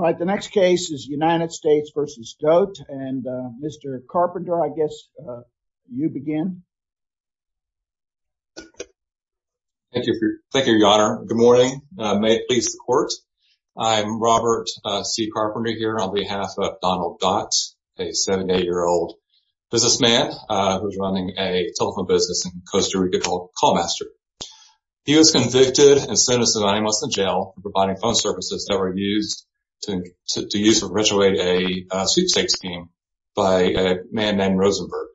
All right, the next case is United States v. Goethe, and Mr. Carpenter, I guess you begin. Thank you, your honor. Good morning. May it please the court. I'm Robert C. Carpenter here on behalf of Donald Dodt, a 78-year-old businessman who's running a telephone business in Costa Rica called Callmaster. He was convicted and sentenced to nine months in jail for providing phone services that were used to use to perpetuate a sweepstakes scheme by a man named Rosenberg.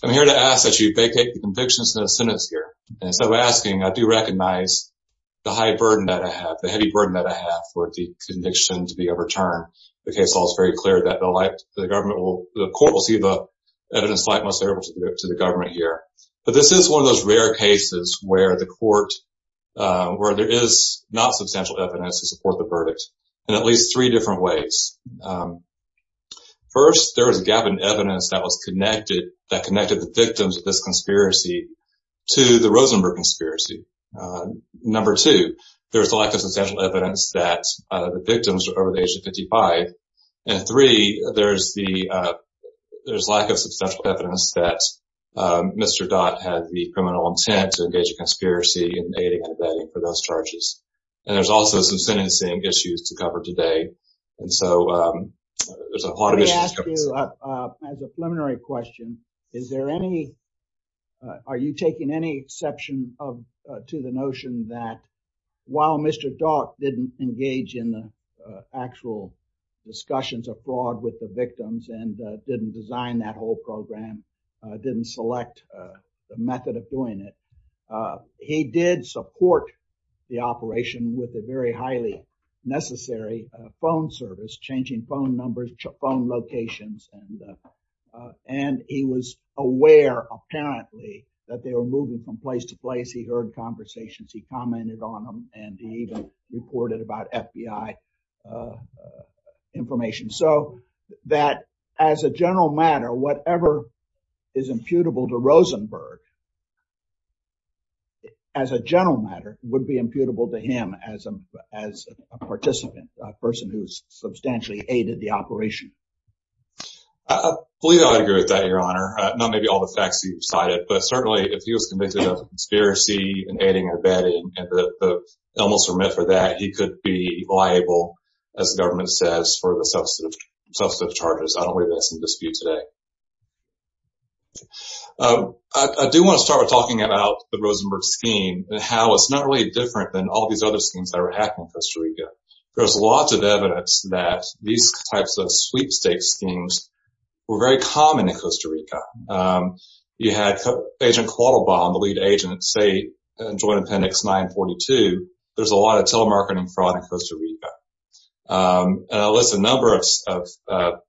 I'm here to ask that you vacate the convictions and the sentence here. And instead of asking, I do recognize the high burden that I have, the heavy burden that I have for the conviction to be overturned. The case law is very clear that the government will, the court will see the evidence of the government here. But this is one of those rare cases where the court, where there is not substantial evidence to support the verdict in at least three different ways. First, there was a gap in evidence that was connected, that connected the victims of this conspiracy to the Rosenberg conspiracy. Number two, there's a lack of substantial evidence that the victims are over the age of 55. And three, there's the, there's lack of substantial evidence that Mr. Dott had the criminal intent to engage a conspiracy in aiding and abetting for those charges. And there's also some sentencing issues to cover today. And so there's a lot of issues. Let me ask you, as a preliminary question, is there any, are you taking any exception of, to the notion that while Mr. Dott didn't engage in the actual discussions of fraud with the victims and didn't design that whole program, didn't select the method of doing it, he did support the operation with a very highly necessary phone service, changing phone numbers, phone locations. And he was aware apparently that they were moving from place to place. He heard conversations, he commented on them, and he even reported about FBI information. So that as a general matter, whatever is imputable to Rosenberg, as a general matter, would be imputable to him as a, as a participant, a person who's substantially aided the operation. Please, I'll agree with that, your honor. Not maybe all the facts you've cited, but certainly if he was convicted of conspiracy and aiding and abetting and the elements were meant for that, he could be liable, as the government says, for the substantive charges. I don't believe that's in dispute today. I do want to start with talking about the Rosenberg scheme and how it's not really different than all these other schemes that are happening in Costa Rica. There's lots of evidence that these types of sweepstakes schemes were very common in Costa Rica. If you look at Quattle Bomb, the lead agent at State Joint Appendix 942, there's a lot of telemarketing fraud in Costa Rica. And I list a number of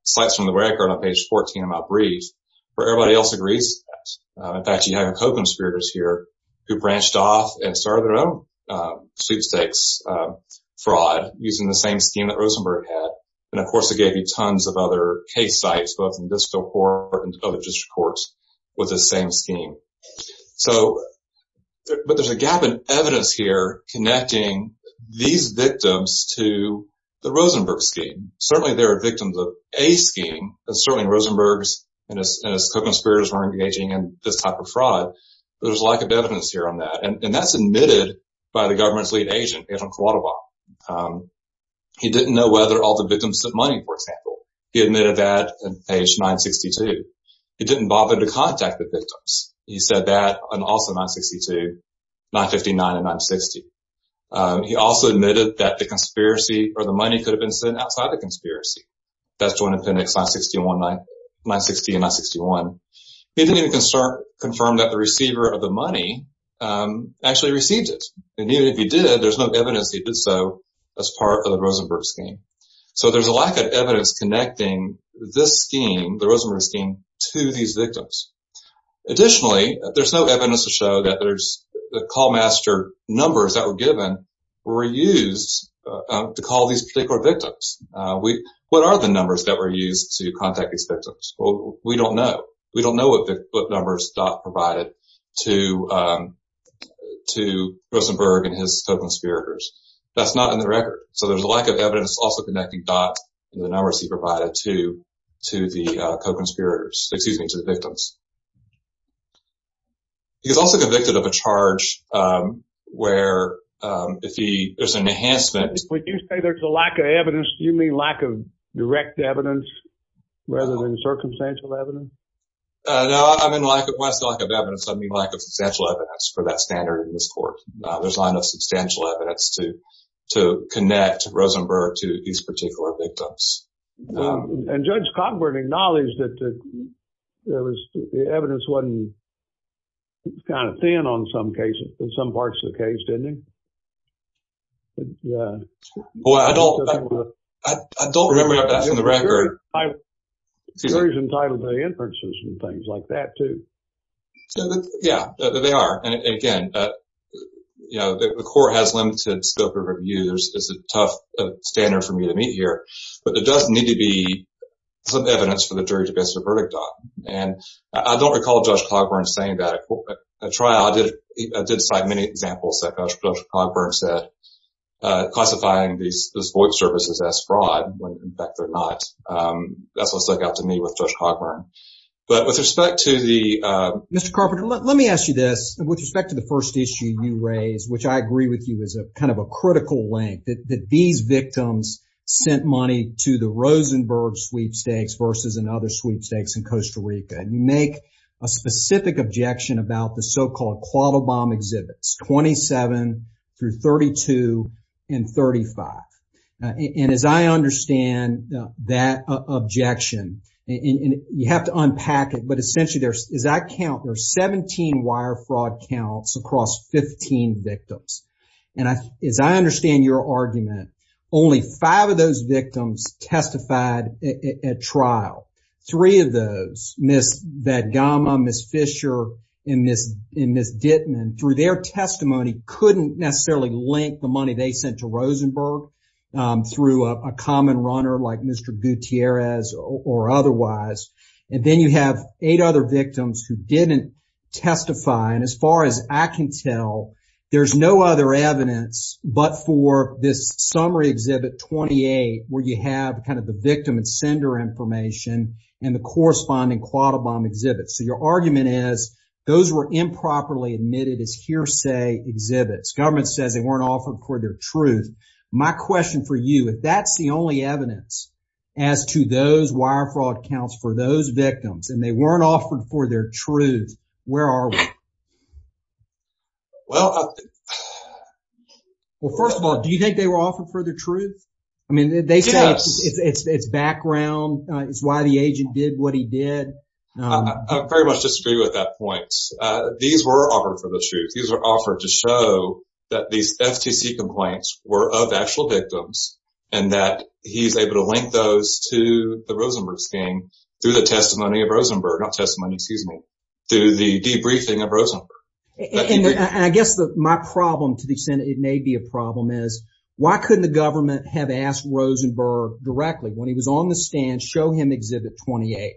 sites from the record on page 14 of my brief where everybody else agrees. In fact, you have co-conspirators here who branched off and started their own sweepstakes fraud using the same scheme that Rosenberg had. And of course, it gave you tons of other case sites, both in District Court and other District Courts with the same scheme. So, but there's a gap in evidence here connecting these victims to the Rosenberg scheme. Certainly, there are victims of a scheme, but certainly Rosenberg's and his co-conspirators weren't engaging in this type of fraud. There's a lack of evidence here on that. And that's admitted by the government's lead agent, Anton Quattle Bomb. He didn't know whether all the victims had money, for example. He admitted that on page 962. He didn't bother to contact the victims. He said that on also 962, 959, and 960. He also admitted that the conspiracy or the money could have been sent outside the conspiracy. That's joined appendix 960 and 961. He didn't even confirm that the receiver of the money actually received it. And even if he did, there's no evidence he did so as part of the Rosenberg scheme. So, there's a lack of evidence connecting this scheme, the Rosenberg scheme, to these victims. Additionally, there's no evidence to show that there's the call master numbers that were given were used to call these particular victims. What are the numbers that were used to contact these victims? Well, we don't know. We don't know what numbers Dot provided to Rosenberg and his co-conspirators. That's not on the record. So, there's a lack of evidence also connecting Dot and the numbers he provided to the co-conspirators, excuse me, to the victims. He was also convicted of a charge where if he, there's an enhancement. When you say there's a lack of evidence, do you mean lack of direct evidence rather than circumstantial evidence? No, I mean, when I say lack of evidence, I mean lack of substantial evidence for that standard in this court. There's not enough to connect Rosenberg to these particular victims. And Judge Cogburn acknowledged that there was, the evidence wasn't kind of thin on some cases, in some parts of the case, didn't he? Well, I don't, I don't remember if that's on the record. You're entitled to the inferences and things like that, too. Yeah, they are. And again, you know, the court has limited scope of review. There's, it's a tough standard for me to meet here. But there does need to be some evidence for the jury to pass a verdict on. And I don't recall Judge Cogburn saying that at a trial. I did cite many examples that Judge Cogburn said, classifying these voice services as fraud when in fact they're not. That's what stuck out to me with Judge Cogburn. But with respect to the... Mr. Carpenter, let me ask you this. With respect to the first issue you raised, which I agree with you is a kind of a critical link, that these victims sent money to the Rosenberg sweepstakes versus another sweepstakes in Costa Rica. You make a specific objection about the so that objection and you have to unpack it. But essentially, there's, as I count, there's 17 wire fraud counts across 15 victims. And as I understand your argument, only five of those victims testified at trial. Three of those, Ms. Vadgama, Ms. Fisher, and Ms. Dittman, through their testimony, couldn't necessarily link the money they sent to Rosenberg through a common runner like Mr. Gutierrez or otherwise. And then you have eight other victims who didn't testify. And as far as I can tell, there's no other evidence but for this summary exhibit 28, where you have kind of the victim and sender information and the corresponding Quattle Bomb exhibit. So your argument is those were improperly admitted as hearsay exhibits. Government says they weren't offered for their truth. My question for you, if that's the only evidence as to those wire fraud counts for those victims and they weren't offered for their truth, where are we? Well, first of all, do you think they were offered for the truth? I mean, they say it's background. It's why the agent did what he did. I very much disagree with that point. These were offered for the truth. These were offered to show that these FTC complaints were of actual victims and that he's able to link those to the Rosenberg scheme through the testimony of Rosenberg, not testimony, excuse me, through the debriefing of Rosenberg. I guess my problem to the extent it may be a problem is why couldn't the government have asked Rosenberg directly when he was on the stand, show him exhibit 28.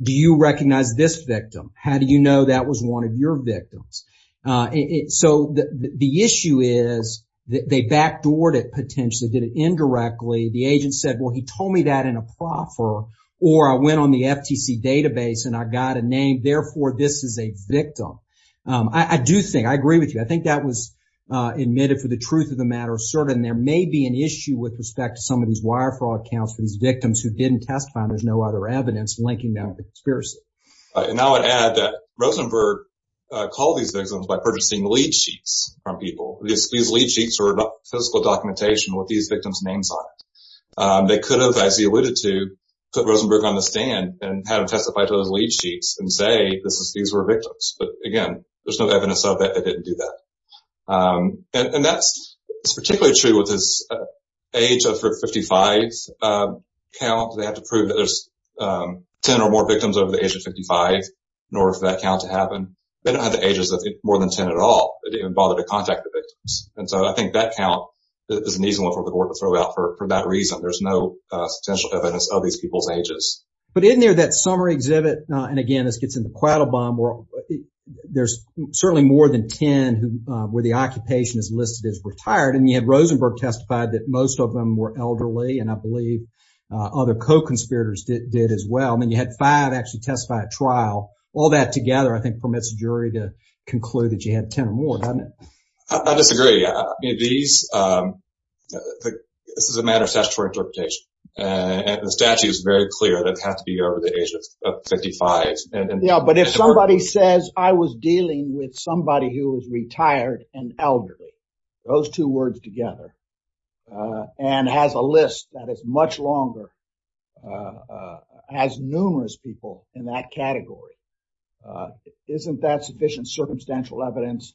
Do you recognize this victim? How do you know that was one of your victims? So the issue is that they backdoored it potentially, did it indirectly. The agent said, well, he told me that in a proffer or I went on the FTC database and I got a name. Therefore, this is a victim. I do think I agree with you. I think that was admitted for the truth of the matter of certain. There may be an issue with respect to some of these wire fraud counts for these victims who didn't testify and there's no other evidence linking that with conspiracy. And I would add that Rosenberg called these victims by purchasing lead sheets from people. These lead sheets are physical documentation with these victims' names on it. They could have, as he alluded to, put Rosenberg on the stand and had him testify to those lead sheets and say these were victims. But again, there's no evidence of that. They didn't do that. And that's particularly true with his age of 55 count. They had to prove that there's 10 or more victims over the age of 55 in order for that count to happen. They don't have the ages of more than 10 at all. They didn't even bother to contact the victims. And so I think that count is an easy one for the board to throw out for that reason. There's no potential evidence of these people's ages. But isn't there that summary exhibit? And again, this gets into Quattle Bomb where there's certainly more than 10 where the occupation is listed as retired. And you had Rosenberg testify that most of them were elderly and I believe other co-conspirators did as well. I mean, you had five actually testify at trial. All that together, I think, permits the jury to conclude that you had 10 or more, doesn't it? I disagree. I mean, this is a matter of statutory interpretation. And the statute is very clear that it has to be over the age of 55. Yeah, but if somebody says I was dealing with somebody who was retired and together and has a list that is much longer, has numerous people in that category, isn't that sufficient circumstantial evidence?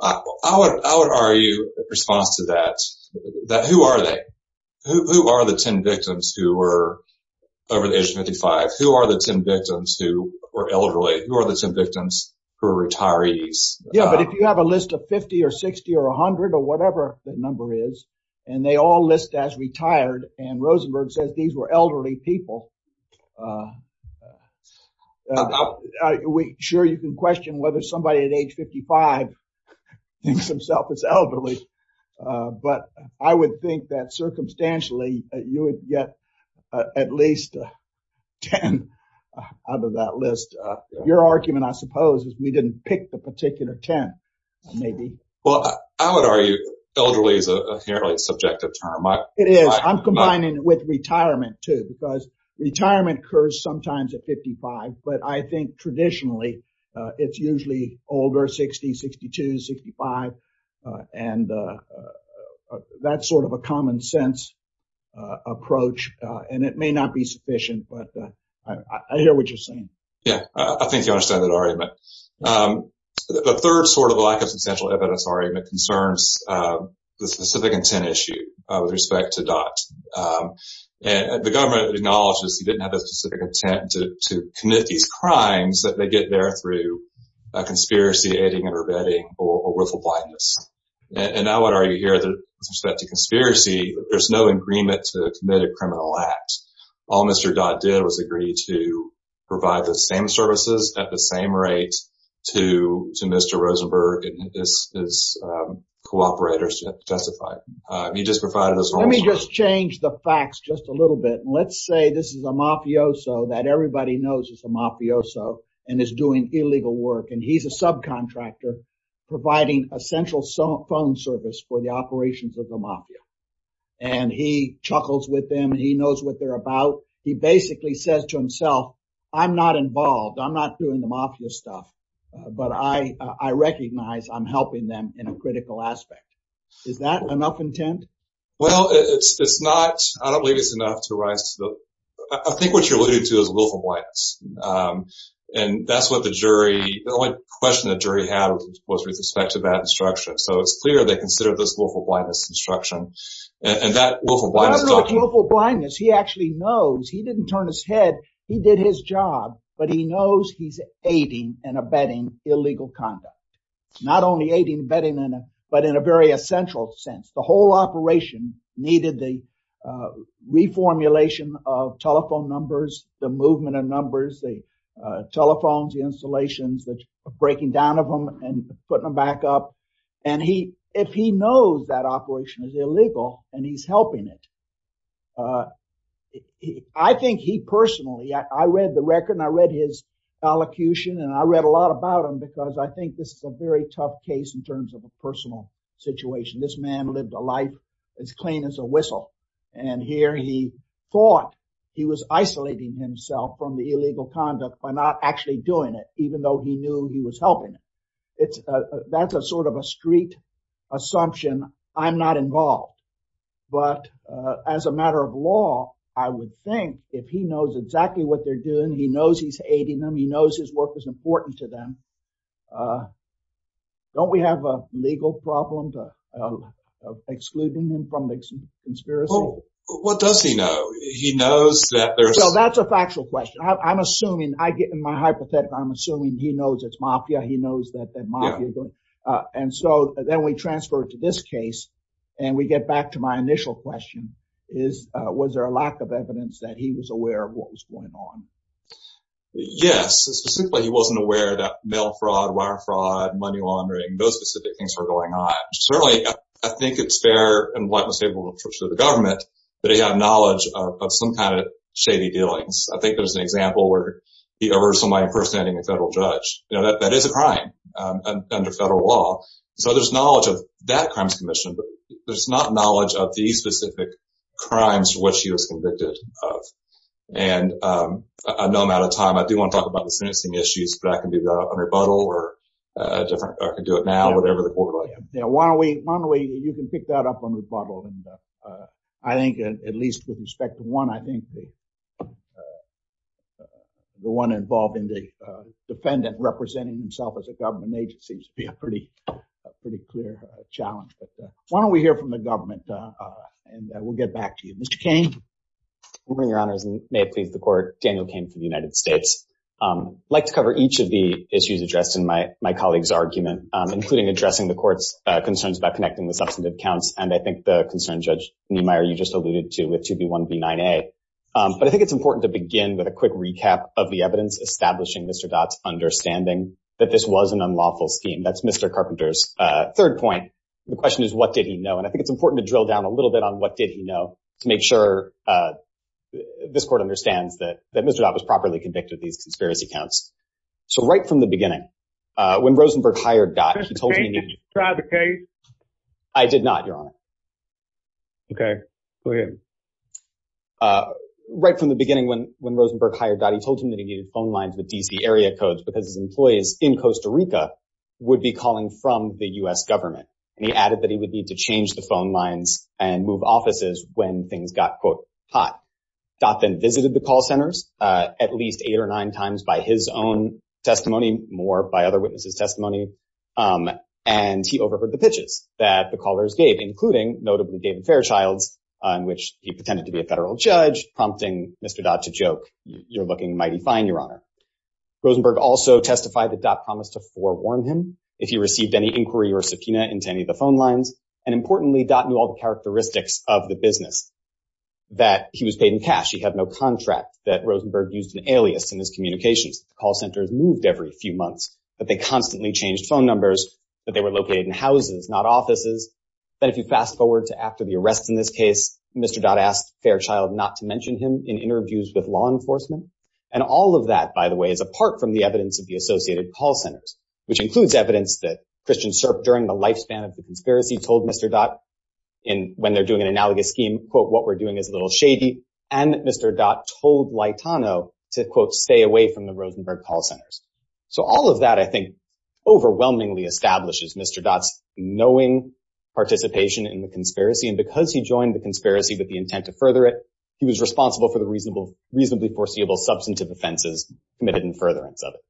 I would argue in response to that, that who are they? Who are the 10 victims who were over the age of 55? Who are the 10 victims who were elderly? Who are the 10 victims who are retirees? Yeah, but if you have a list of 50 or 60 or 100 or whatever the number is, and they all list as retired and Rosenberg says these were elderly people. Sure, you can question whether somebody at age 55 thinks himself as elderly. But I would that circumstantially you would get at least 10 out of that list. Your argument, I suppose, is we didn't pick the particular 10, maybe. Well, I would argue elderly is a fairly subjective term. It is. I'm combining it with retirement too, because retirement occurs sometimes at 55. But I think traditionally, it's usually older 60, 62, 65. And that's sort of a common sense approach. And it may not be sufficient, but I hear what you're saying. Yeah, I think you understand that argument. The third sort of lack of substantial evidence argument concerns the specific intent issue with respect to DOT. And the government acknowledges he didn't have crimes that they get there through a conspiracy, aiding and abetting, or worth of blindness. And now what are you here that respect to conspiracy, there's no agreement to commit a criminal act. All Mr. DOT did was agree to provide the same services at the same rate to Mr. Rosenberg and his cooperators to testify. He just provided us- Let me just change the facts just a little bit. Let's say this is a mafioso that everybody knows is a mafioso and is doing illegal work. And he's a subcontractor providing a central phone service for the operations of the mafia. And he chuckles with them. He knows what they're about. He basically says to himself, I'm not involved, I'm not doing the mafia stuff. But I recognize I'm helping them in a critical aspect. Is that enough intent? Well, it's not. I don't believe it's enough to rise to the- I think what you're alluding to is willful blindness. And that's what the jury, the only question the jury had was with respect to that instruction. So it's clear they consider this willful blindness instruction. And that willful blindness- Not only willful blindness, he actually knows, he didn't turn his head. He did his job, but he knows he's aiding and abetting illegal conduct. Not only aiding and abetting, but in a very essential sense. The whole operation needed the reformulation of telephone numbers, the movement of numbers, the telephones, the installations, the breaking down of them and putting them back up. And if he knows that operation is illegal and he's helping it. I think he personally, I read the record and I read his allocution and I read a lot about him because I think this is a very tough case in terms of a personal situation. This man lived a life as clean as a whistle. And here he thought he was isolating himself from the illegal conduct by not actually doing it, even though he knew he was helping it. That's a sort of a street assumption. I'm not involved. But as a matter of law, I would think if he knows exactly what they're doing, he knows he's aiding them. He knows his work is important to them. Don't we have a legal problem of excluding them from the conspiracy? What does he know? He knows that there's... So that's a factual question. I'm assuming, I get in my hypothetical, I'm assuming he knows it's mafia. He knows that mafia... And so then we transfer to this case and we get back to my Yes. Specifically, he wasn't aware that mail fraud, wire fraud, money laundering, those specific things were going on. Certainly, I think it's fair and what was able to approach to the government that he had knowledge of some kind of shady dealings. I think there's an example where he averts somebody from first standing a federal judge. That is a crime under federal law. So there's knowledge of that crimes commission, but there's not knowledge of these specific crimes what she was convicted of. And I know I'm out of time. I do want to talk about the sentencing issues, but I can do that on rebuttal or a different... I can do it now, whatever the court like. Yeah. Why don't we... You can pick that up on rebuttal. And I think at least with respect to one, I think the one involved in the defendant representing himself as a government agent seems to be a pretty clear challenge. But why don't we hear from the government and we'll get back to you. Mr. Cain. Good morning, Your Honor. May it please the court. Daniel Cain from the United States. I'd like to cover each of the issues addressed in my colleague's argument, including addressing the court's concerns about connecting the substantive counts. And I think the concern, Judge Neumeier, you just alluded to with 2B1B9A. But I think it's important to begin with a quick recap of the evidence, establishing Mr. Dodd's understanding that this was an unlawful scheme. That's Mr. Carpenter's third point. The question is, what did he know? And I think it's important to drill down a little bit on what did he know to make sure this court understands that Mr. Dodd was properly convicted of these conspiracy counts. So right from the beginning, when Rosenberg hired Dodd, he told him... Mr. Cain, did you try the case? I did not, Your Honor. Okay. Go ahead. Right from the beginning, when Rosenberg hired Dodd, he told him that he needed phone lines with D.C. area codes because his employees in Costa Rica would be calling from the U.S. government. And he added that he would need to change the phone lines and move offices when things got, quote, hot. Dodd then visited the call centers at least eight or nine times by his own testimony, more by other witnesses' testimony. And he overheard the pitches that the callers gave, including, notably, David Fairchild's, in which he pretended to be a federal judge, prompting Mr. Dodd to joke, you're looking mighty fine, Your Honor. Rosenberg also testified that any of the phone lines and, importantly, Dodd knew all the characteristics of the business, that he was paid in cash, he had no contract, that Rosenberg used an alias in his communications, that the call centers moved every few months, that they constantly changed phone numbers, that they were located in houses, not offices, that if you fast forward to after the arrest in this case, Mr. Dodd asked Fairchild not to mention him in interviews with law enforcement. And all of that, by the way, is apart from the evidence of the associated call centers, which includes evidence that Christian Serp, during the lifespan of the conspiracy, told Mr. Dodd, when they're doing an analogous scheme, quote, what we're doing is a little shady, and that Mr. Dodd told Laitano to, quote, stay away from the Rosenberg call centers. So all of that, I think, overwhelmingly establishes Mr. Dodd's knowing participation in the conspiracy. And because he joined the conspiracy with the intent to further it, he was responsible for the reasonably foreseeable substantive offenses committed in furtherance of the conspiracy.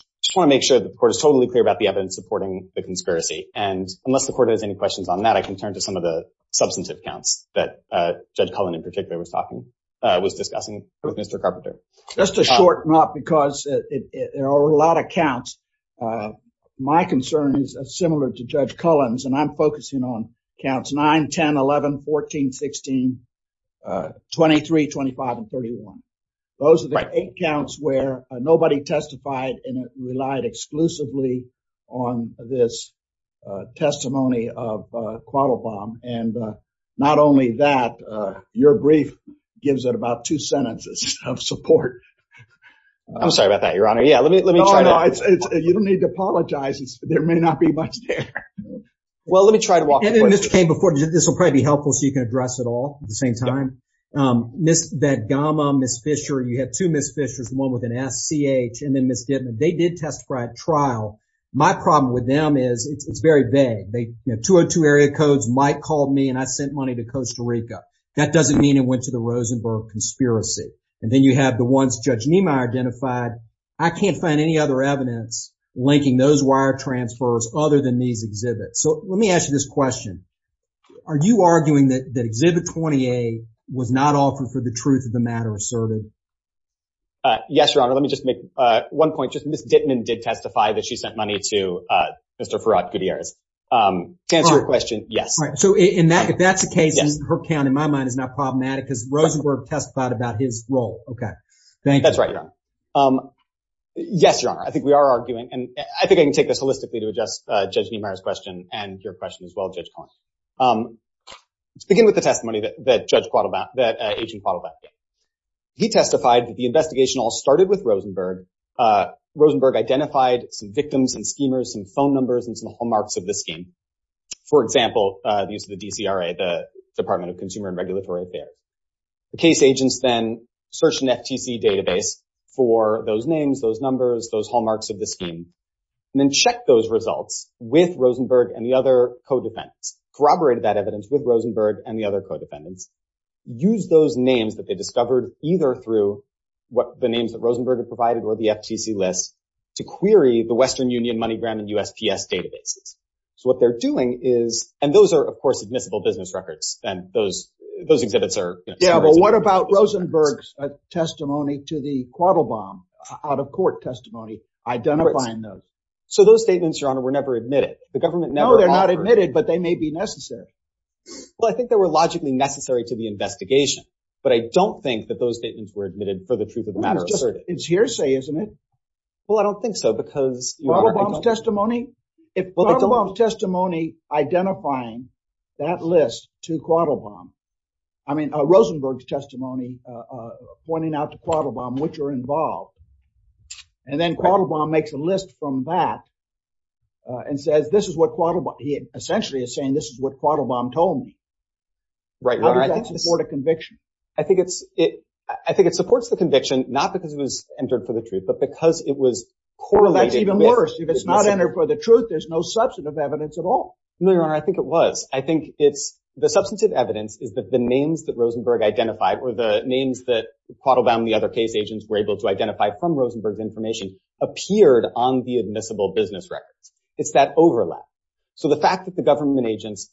I just want to make sure the court is totally clear about the evidence supporting the conspiracy. And unless the court has any questions on that, I can turn to some of the substantive counts that Judge Cullen, in particular, was discussing with Mr. Carpenter. Just to shorten up, because there are a lot of counts. My concern is similar to Judge Cullen's, and I'm focusing on counts 9, 10, 11, 14, 16, 23, 25, and 31. Those are the eight counts where nobody testified, and it relied exclusively on this testimony of Quattlebaum. And not only that, your brief gives it about two sentences of support. I'm sorry about that, Your Honor. Yeah, let me try that. No, no, you don't need to apologize. There may not be much there. Well, let me try to walk you through it. And then, Mr. Cain, before, this will probably be helpful so you can address it all at the same time. That gamma, Ms. Fisher, you had two Ms. C.H. and then Ms. Dittman. They did testify at trial. My problem with them is it's very vague. 202 Area Codes, Mike called me and I sent money to Costa Rica. That doesn't mean it went to the Rosenberg conspiracy. And then you have the ones Judge Niemeyer identified. I can't find any other evidence linking those wire transfers other than these exhibits. So let me ask you this question. Are you arguing that Exhibit 28 was not offered for the truth of the matter asserted? Uh, yes, Your Honor. Let me just make, uh, one point. Just Ms. Dittman did testify that she sent money to, uh, Mr. Farrad Gutierrez. Um, to answer your question, yes. All right. So in that, if that's the case, her count in my mind is not problematic because Rosenberg testified about his role. Okay. Thank you. That's right, Your Honor. Um, yes, Your Honor. I think we are arguing and I think I can take this holistically to adjust, uh, Judge Niemeyer's question and your question as well, Judge Collins. Um, let's begin with the testimony that, that Judge Quattle, that, uh, Judge Quattle testified. He testified that the investigation all started with Rosenberg. Uh, Rosenberg identified some victims and schemers, some phone numbers, and some hallmarks of the scheme. For example, uh, the use of the DCRA, the Department of Consumer and Regulatory Affairs. The case agents then searched an FTC database for those names, those numbers, those hallmarks of the scheme, and then check those results with Rosenberg and the other co-defendants, corroborated that evidence with Rosenberg and the other co-defendants, used those names that they discovered, either through what the names that Rosenberg had provided or the FTC lists to query the Western Union, MoneyGram, and USPS databases. So what they're doing is, and those are, of course, admissible business records, and those, those exhibits are, you know. Yeah, but what about Rosenberg's testimony to the Quattle bomb, out-of-court testimony, identifying those? So those statements, Your Honor, were never admitted. The government never offered. No, they're not admitted, but they may be necessary. Well, I think they were logically necessary to the investigation, but I don't think that those statements were admitted for the truth of the matter asserted. It's hearsay, isn't it? Well, I don't think so, because, Your Honor, I don't... Quattle bomb's testimony, if Quattle bomb's testimony identifying that list to Quattle bomb, I mean, Rosenberg's testimony, uh, uh, pointing out to Quattle bomb which are involved, and then Quattle bomb makes a list from that, uh, and says this is what Quattle bomb, he essentially is saying this is what Quattle bomb told me. Right, Your Honor, I think... How does that support a conviction? I think it's, it, I think it supports the conviction, not because it was entered for the truth, but because it was correlated with... That's even worse. If it's not entered for the truth, there's no substantive evidence at all. No, Your Honor, I think it was. I think it's, the substantive evidence is that the names that Rosenberg identified, or the names that Quattle bomb and the other case agents were able to identify from Rosenberg's information, appeared on the admissible business records. It's that overlap. So, the fact that the government agents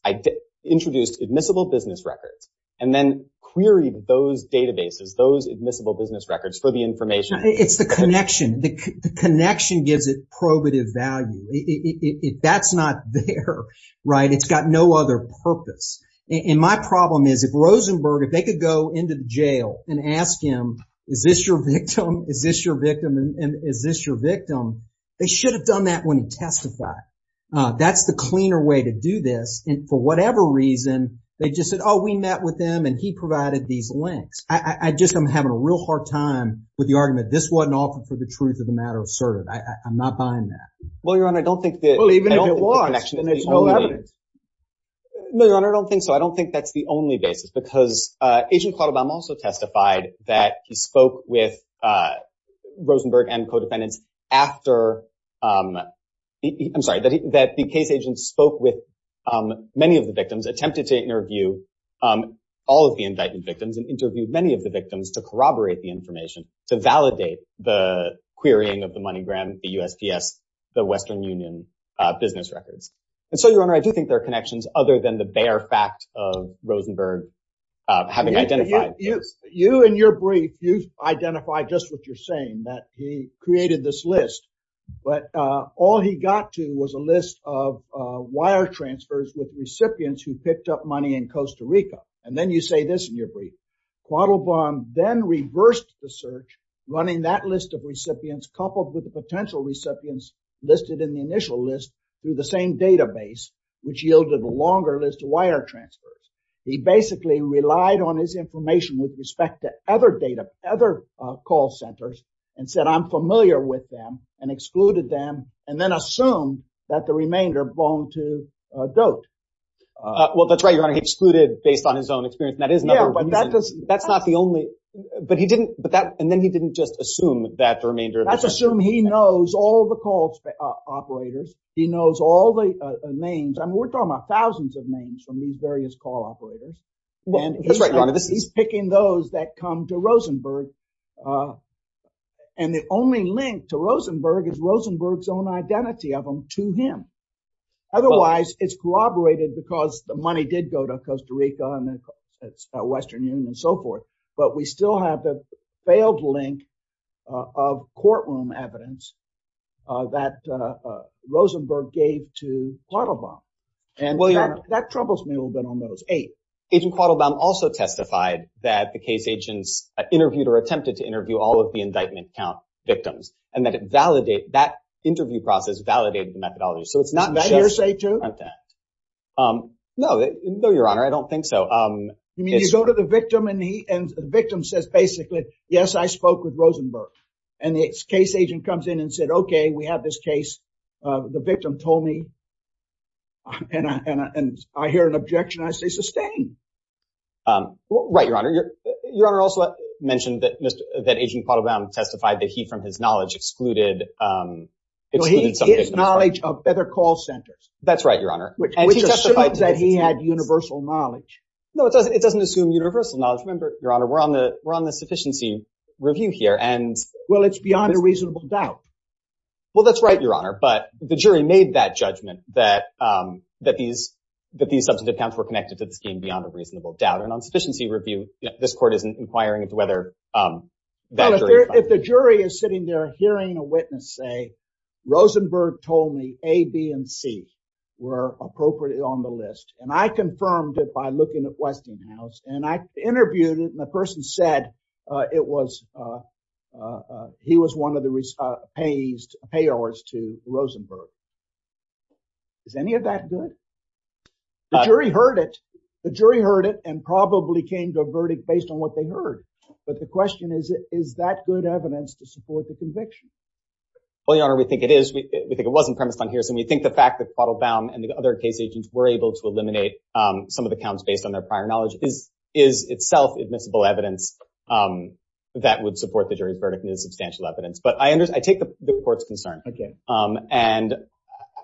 introduced admissible business records, and then queried those databases, those admissible business records for the information... It's the connection. The connection gives it probative value. It, it, it, it, that's not there, right? It's got no other purpose. And my problem is, if Rosenberg, if they could go into the jail and ask him, is this your victim, is this your victim, and is this your victim? They should have done that when he testified. That's the cleaner way to do this. And for whatever reason, they just said, oh, we met with him and he provided these links. I, I, I just, I'm having a real hard time with the argument. This wasn't offered for the truth of the matter asserted. I, I, I'm not buying that. Well, Your Honor, I don't think that... Well, even if it was, then there's no evidence. No, Your Honor, I don't think so. I don't think that's the only basis, because, Agent Quattle Bomb also testified that he spoke with, Rosenberg and co-defendants after, I'm sorry, that he, that the case agent spoke with many of the victims, attempted to interview all of the indictment victims, and interviewed many of the victims to corroborate the information, to validate the querying of the MoneyGram, the USPS, the Western Union business records. And so, Your Honor, I do think there are connections other than the bare fact of Rosenberg having identified... You, you, you in your brief, identified just what you're saying, that he created this list, but all he got to was a list of wire transfers with recipients who picked up money in Costa Rica. And then you say this in your brief, Quattle Bomb then reversed the search, running that list of recipients coupled with the potential recipients listed in the initial list through the same database, which yielded a longer list of wire transfers. He basically relied on his information with respect to other data, other call centers, and said, I'm familiar with them, and excluded them, and then assumed that the remainder belonged to Doat. Well, that's right, Your Honor, he excluded based on his own experience, and that is another reason... Yeah, but that does... That's not the only... But he didn't, but that, and then he didn't just assume that the remainder of... Let's assume he knows all the call operators. He knows all the names. I mean, we're talking about thousands of names from these various call operators. That's right, Your Honor, this is... And the only link to Rosenberg is Rosenberg's own identity of him to him. Otherwise, it's corroborated because the money did go to Costa Rica and the Western Union and so forth, but we still have the failed link of courtroom evidence that Rosenberg gave to Quattle Bomb. And that troubles me a little bit on those eight. Agent Quattle Bomb also testified that the case agents interviewed or attempted to interview all of the indictment count victims, and that it validate... That interview process validated the methodology. So it's not just... Did that hearsay too? No, no, Your Honor, I don't think so. You mean you go to the victim and the victim says basically, yes, I spoke with Rosenberg, and the case agent comes in and said, okay, we have this case. The victim told me, and I hear an objection, I say, sustain. Right, Your Honor. Your Honor also mentioned that Agent Quattle Bomb testified that he, from his knowledge, excluded... His knowledge of other call centers. That's right, Your Honor. Which assumes that he had universal knowledge. No, it doesn't assume universal knowledge. Remember, Your Honor, we're on the sufficiency review here and... Well, it's beyond a reasonable doubt. Well, that's right, Your Honor, but the jury made that judgment that these substantive counts were connected to the scheme beyond a reasonable doubt. And on sufficiency review, this court isn't inquiring into whether that jury... Well, if the jury is sitting there hearing a witness say, Rosenberg told me A, B, and C were appropriately on the list, and I confirmed it by looking at Westinghouse, and I interviewed it, and the person said it was... He was one of the payors to Rosenberg. Is any of that good? The jury heard it. The jury heard it and probably came to a verdict based on what they heard. But the question is, is that good evidence to support the conviction? Well, Your Honor, we think it is. We think it wasn't premised on hearsay. We think the fact that Quattle Bomb and the other case agents were able to eliminate some of the counts based on their prior knowledge is itself admissible evidence that would support the jury's verdict and is substantial evidence. But I take the court's concern, and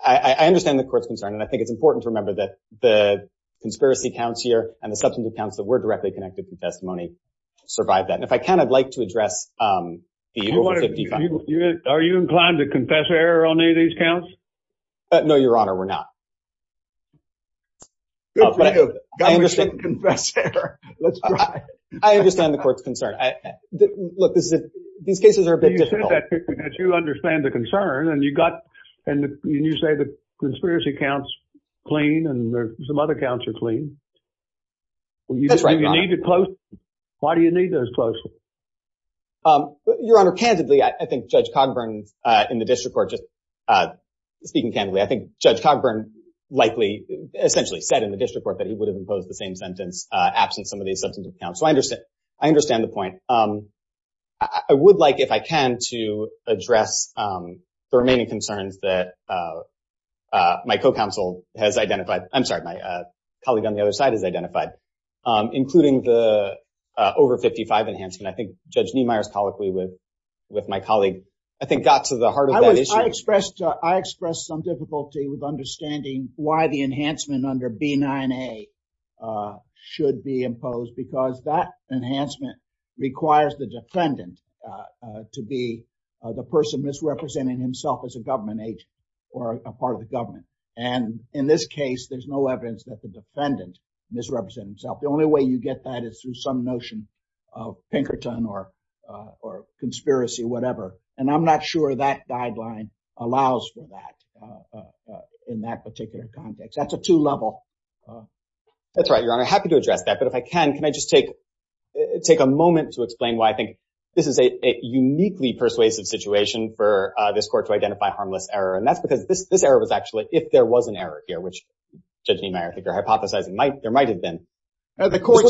I understand the court's concern. And I think it's important to remember that the conspiracy counts here and the substantive counts that were directly connected to the testimony survived that. And if I can, I'd like to address... Are you inclined to confess error on any of these counts? No, Your Honor, we're not. I understand the court's concern. Look, these cases are a bit difficult. You understand the concern, and you say the conspiracy counts clean and some other counts are clean. That's right, Your Honor. Why do you need those posts? Your Honor, candidly, I think Judge Cogburn in the district court, just speaking candidly, I think Judge Cogburn likely essentially said in the district court that he would have imposed the same sentence absent some of these substantive counts. So I understand the point. I would like, if I can, to address the remaining concerns that my co-counsel has identified. I'm sorry, my colleague on the other side has identified, including the over 55 enhancement. I think Judge Niemeyer's colloquy with my colleague, I think, got to the heart of that issue. I expressed some difficulty with understanding why the enhancement under B9A should be imposed, because that enhancement requires the defendant to be the person misrepresenting himself as a or a part of the government. And in this case, there's no evidence that the defendant misrepresents himself. The only way you get that is through some notion of Pinkerton or conspiracy, whatever. And I'm not sure that guideline allows for that in that particular context. That's a two level. That's right, Your Honor. Happy to address that. But if I can, can I just take a moment to explain why I think this is a uniquely persuasive situation for this error? And that's because this error was actually if there was an error here, which Judge Niemeyer, if you're hypothesizing, there might have been. The court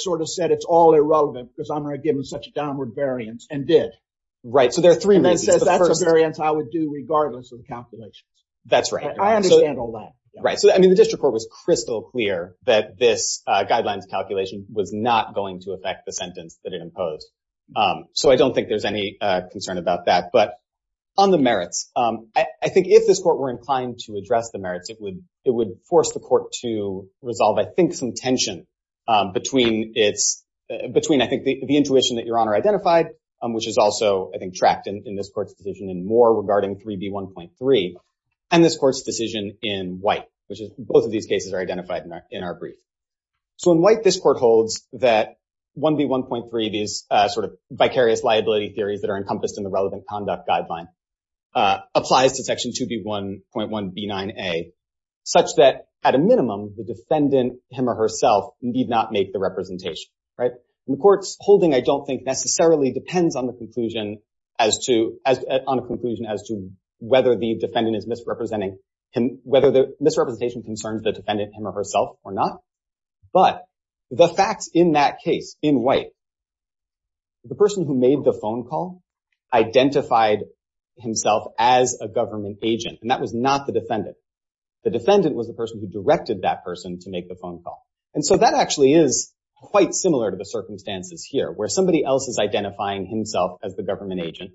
sort of said it's all irrelevant because I'm going to give them such a downward variance and did. Right. So there are three reasons. It says that's a variance I would do regardless of the calculations. That's right. I understand all that. Right. So, I mean, the district court was crystal clear that this guidelines calculation was not going to affect the sentence that it imposed. So I don't think there's any concern about that. But on the merits, I think if this court were inclined to address the merits, it would it would force the court to resolve, I think, some tension between it's between, I think, the intuition that Your Honor identified, which is also, I think, tracked in this court's decision and more regarding 3B 1.3 and this court's decision in white, which is both of these cases are identified in our brief. So in white, this in the relevant conduct guideline applies to Section 2B 1.1 B9A, such that at a minimum, the defendant, him or herself need not make the representation. Right. And the court's holding, I don't think necessarily depends on the conclusion as to as on a conclusion as to whether the defendant is misrepresenting him, whether the misrepresentation concerns the defendant, him or herself or not. But the facts in that case in white, the person who made the phone call identified himself as a government agent and that was not the defendant. The defendant was the person who directed that person to make the phone call. And so that actually is quite similar to the circumstances here where somebody else is identifying himself as the government agent,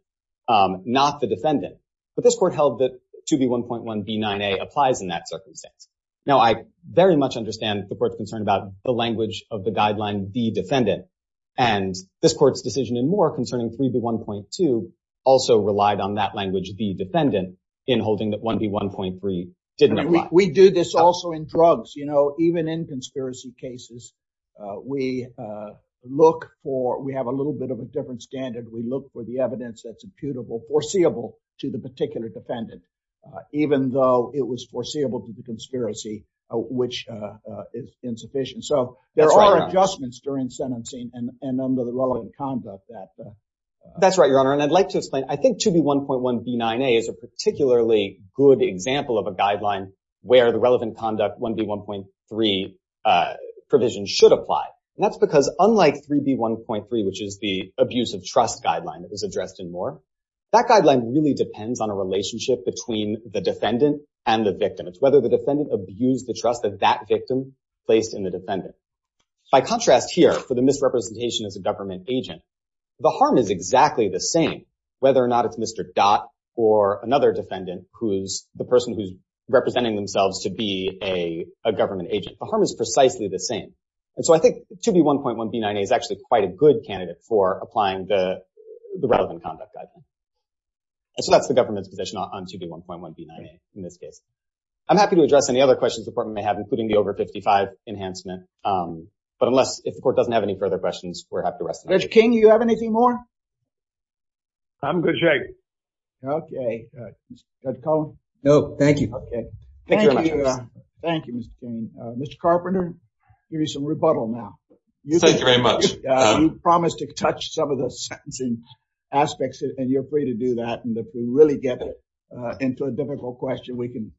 not the defendant. But this court held that 2B 1.1 B9A applies in that circumstance. Now, I very much understand the court's concern about the language of the guideline, the defendant, and this court's decision and more concerning 3B 1.2 also relied on that language, the defendant in holding that 1B 1.3 didn't apply. We do this also in drugs. You know, even in conspiracy cases, we look for, we have a little bit of a different standard. We look for the evidence that's imputable, foreseeable to the defendant. So there are adjustments during sentencing and under the relevant conduct that. That's right, Your Honor. And I'd like to explain, I think 2B 1.1 B9A is a particularly good example of a guideline where the relevant conduct 1B 1.3 provision should apply. And that's because unlike 3B 1.3, which is the abuse of trust guideline that was addressed in Moore, that guideline really depends on a relationship between the defendant and the victim. It's whether the defendant abused the trust of that victim placed in the defendant. By contrast here for the misrepresentation as a government agent, the harm is exactly the same whether or not it's Mr. Dot or another defendant who's the person who's representing themselves to be a government agent. The harm is precisely the same. And so I think 2B 1.1 B9A is actually quite a good candidate for applying the relevant conduct guideline. And so that's the government's position on 2B 1.1 B9A in this case. I'm happy to address any other questions the court may have, including the over 55 enhancement. But unless if the court doesn't have any further questions, we're happy to rest. Judge King, you have anything more? I'm good, Jake. Okay. Judge Cullen? No, thank you. Okay. Thank you, Mr. King. Mr. Carpenter, give you some rebuttal now. Thank you very much. You promised to touch some of the sentencing aspects and you're free to do that. And if we really get into a difficult question, we can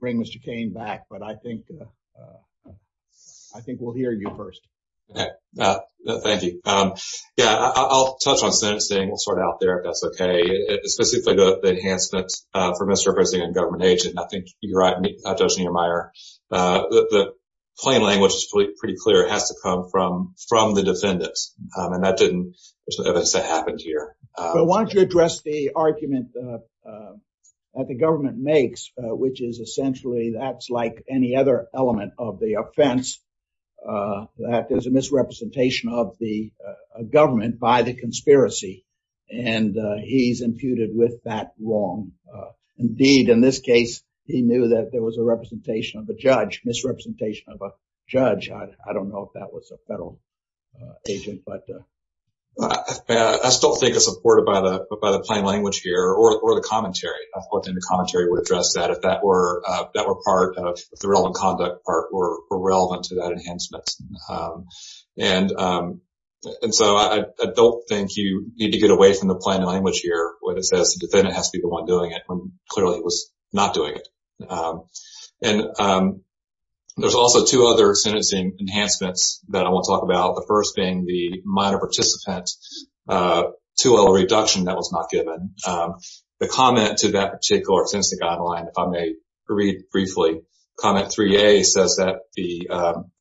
bring Mr. King back. But I think we'll hear you first. Thank you. Yeah, I'll touch on sentencing. We'll sort it out there if that's okay. Specifically, the enhancements for misrepresenting a government agent. I think you're right, Judge Niemeyer. The plain language is pretty clear. It has to come from the defendants. And that didn't, as I said, happen here. But why don't you address the argument that the government makes, which is essentially that's like any other element of the offense. That is a misrepresentation of the government by the conspiracy. And he's imputed with that wrong. Indeed, in this case, he knew that there was a representation of a judge, misrepresentation of a agent. I still think it's supported by the plain language here or the commentary. I think the commentary would address that if that were part of the relevant conduct part or relevant to that enhancement. And so I don't think you need to get away from the plain language here when it says the defendant has to be the one doing it when clearly he was not doing it. And there's also two other sentencing enhancements that I want to talk about. The first being the minor participant 2L reduction that was not given. The comment to that particular sentencing guideline, if I may read briefly, comment 3A says that the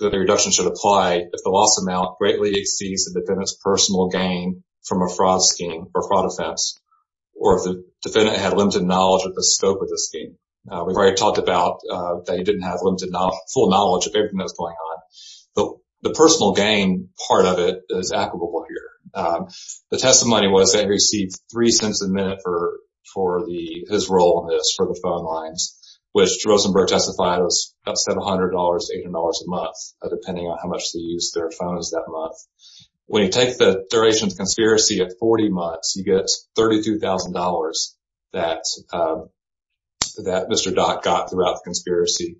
reduction should apply if the loss amount greatly exceeds the defendant's personal gain from a fraud scheme or fraud offense or if the defendant had limited knowledge of the scope of the scheme. We've already talked about that he didn't have limited full knowledge of everything that's going on. But the personal gain part of it is applicable here. The testimony was that he received three cents a minute for his role in this for the phone lines, which Rosenberg testified was about $700 to $800 a month, depending on how much they used their phones that month. When you take the duration of the conspiracy at 40 months, you get $32,000 that Mr. Dot got throughout the conspiracy.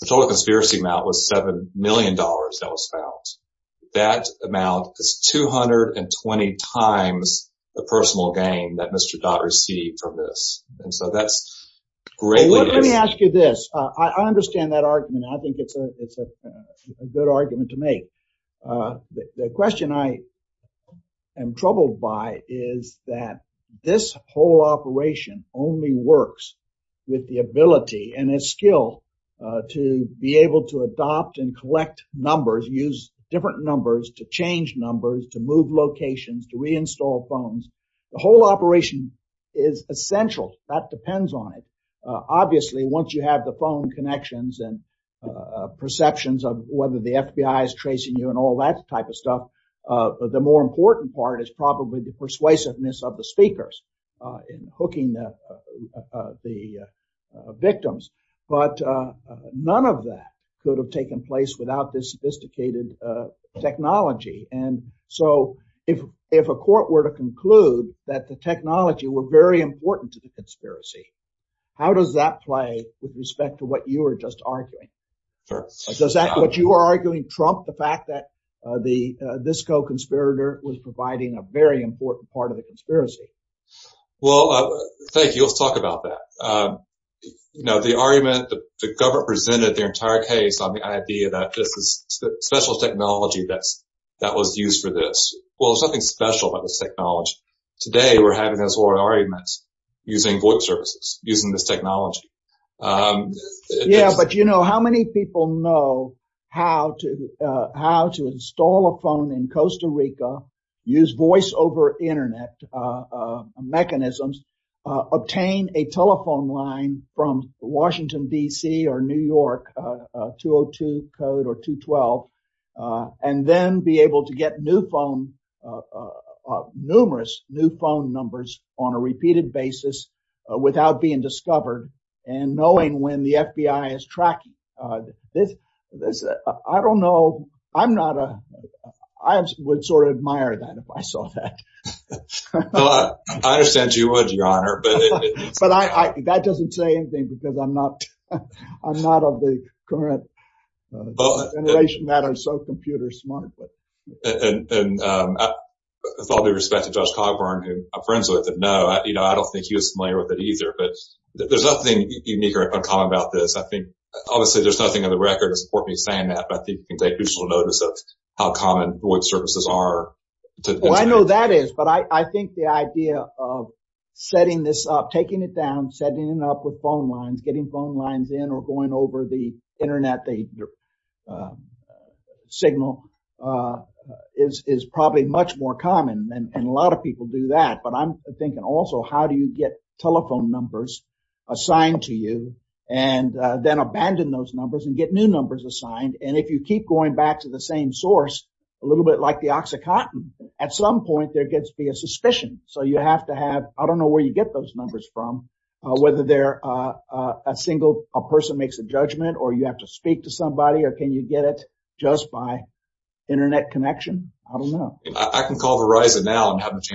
The total conspiracy amount was $7 million that was found. That amount is 220 times the personal gain that Mr. Dot received from this. And so that's greatly... Let me ask you this. I understand that argument. I think it's a good argument to make. The question I am troubled by is that this whole operation only works with the ability and a skill to be able to adopt and collect numbers, use different numbers to change numbers, to move locations, to reinstall phones. The whole operation is essential. That depends on it. Obviously, once you have the phone connections and perceptions of whether the FBI is tracing you and all that type of stuff, the more important part is probably the persuasiveness of the speakers in hooking the victims. But none of that could have taken place without this sophisticated technology. And so if a court were to conclude that the technology were very important to the conspiracy, how does that play with respect to what you were just saying? That this co-conspirator was providing a very important part of the conspiracy. Well, thank you. Let's talk about that. You know, the argument, the government presented their entire case on the idea that this is special technology that was used for this. Well, there's nothing special about this technology. Today, we're having this whole argument using voice services, using this technology. Yeah, but you know, how many people know how to install a phone in Costa Rica, use voice over Internet mechanisms, obtain a telephone line from Washington, D.C. or New York, 202 code or 212, and then be able to get new phone, numerous new phone numbers on a repeated basis without being discovered and knowing when the I don't know. I'm not. I would sort of admire that if I saw that. I understand you would, Your Honor. But that doesn't say anything because I'm not of the current generation that are so computer smart. And with all due respect to Judge Cogburn, who I'm friends with, no, I don't think he was familiar with it either. But there's nothing unique or uncommon about this. I think, obviously, there's nothing in the record to support me saying that. But I think you can take crucial notice of how common voice services are. Well, I know that is. But I think the idea of setting this up, taking it down, setting it up with phone lines, getting phone lines in or going over the Internet, the signal is probably much more common. And a lot of people do that. But I'm thinking also, how do you get telephone numbers assigned to you and then abandon those numbers and get new numbers assigned? And if you keep going back to the same source, a little bit like the oxycontin, at some point there gets to be a suspicion. So you have to have I don't know where you get those numbers from, whether they're a single person makes a judgment or you have to speak to somebody or can you get it just by Internet connection? I don't know. I can call Verizon now and have Verizon.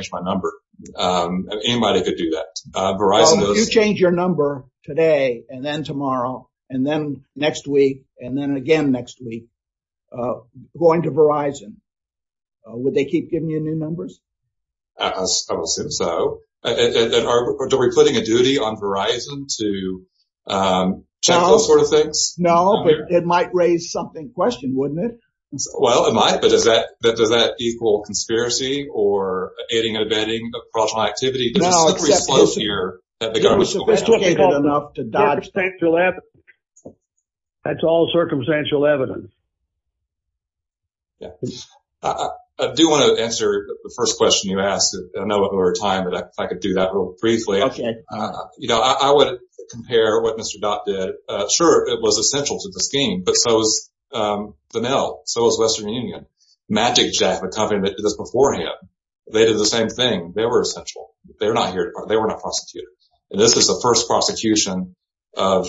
You change your number today and then tomorrow and then next week and then again next week going to Verizon. Would they keep giving you new numbers? I would assume so. Are we putting a duty on Verizon to check those sort of things? No, but it might raise something question, wouldn't it? Well, it might. But does that does that equal conspiracy or aiding and abetting of fraudulent activity? That's all circumstantial evidence. I do want to answer the first question you asked. I know we're out of time, but if I could do that real briefly. You know, I would compare what Mr. Dot did. Sure, it was essential to the scheme, but so was Vanell, so was Western Union, MagicJack, a company that did this beforehand. They did the same thing. They were essential. They're not here. They were not prosecuted. And this is the first prosecution of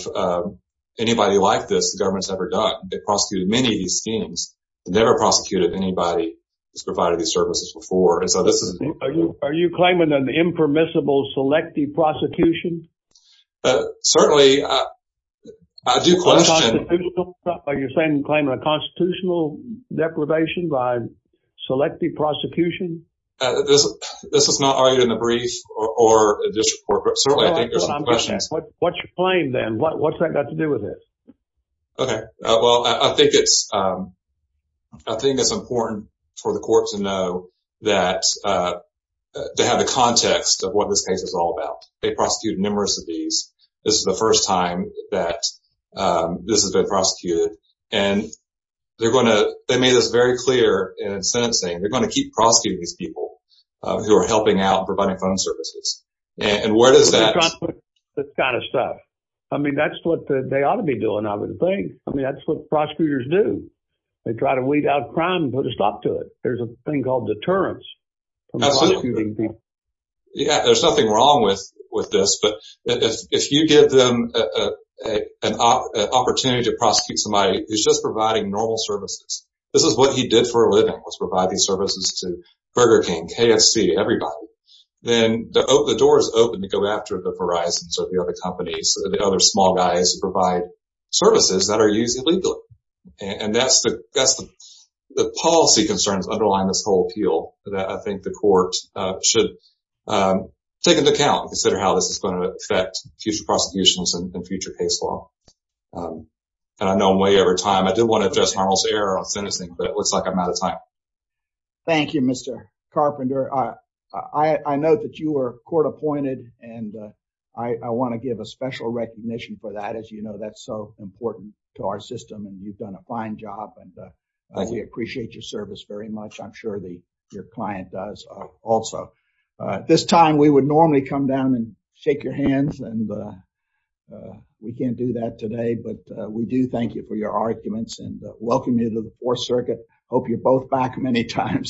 anybody like this the government's ever done. They prosecuted many of these schemes, never prosecuted anybody who's provided these services before. Are you claiming an impermissible selective prosecution? Certainly, I do question. Are you claiming a constitutional deprivation by selective prosecution? This is not argued in the brief or this report. What's your claim then? What's that got to do with it? Okay, well, I think it's I think it's important for the court to know that to have the context of what this case is all about. They prosecuted numerous of these. This is the first time that this has been prosecuted. And they're going to they made this very clear in sentencing. They're going to keep prosecuting these people who are helping out providing phone services. And where does that kind of stuff? I mean, that's what they ought to be doing, I would think. I mean, that's what prosecutors do. They try to weed out crime and put a stop to it. There's a thing called deterrence. Yeah, there's nothing wrong with with this. But if you give them an opportunity to prosecute somebody who's just providing normal services, this is what he did for a living was provide these services to Burger King, KFC, everybody. Then the door is open to go after the Verizon, so the other companies, the other small guys who provide services that are used illegally. And that's the policy concerns underlying this whole appeal that I think the court should take into account and consider how this is going to affect future prosecutions and future case law. And I know way over time, I didn't want to address Arnold's error on sentencing, but it looks like I'm out of time. Thank you, Mr. Carpenter. I know that you were court appointed. And I want to give a special recognition for that, as you know, that's so important to our system. And you've done a fine job. And we appreciate your service very much. I'm sure your client does also. At this time, we would normally come down and shake your hands. And we can't do that today. But we do thank you for your arguments and welcome you to the Fourth Circuit. Hope you're both back many times.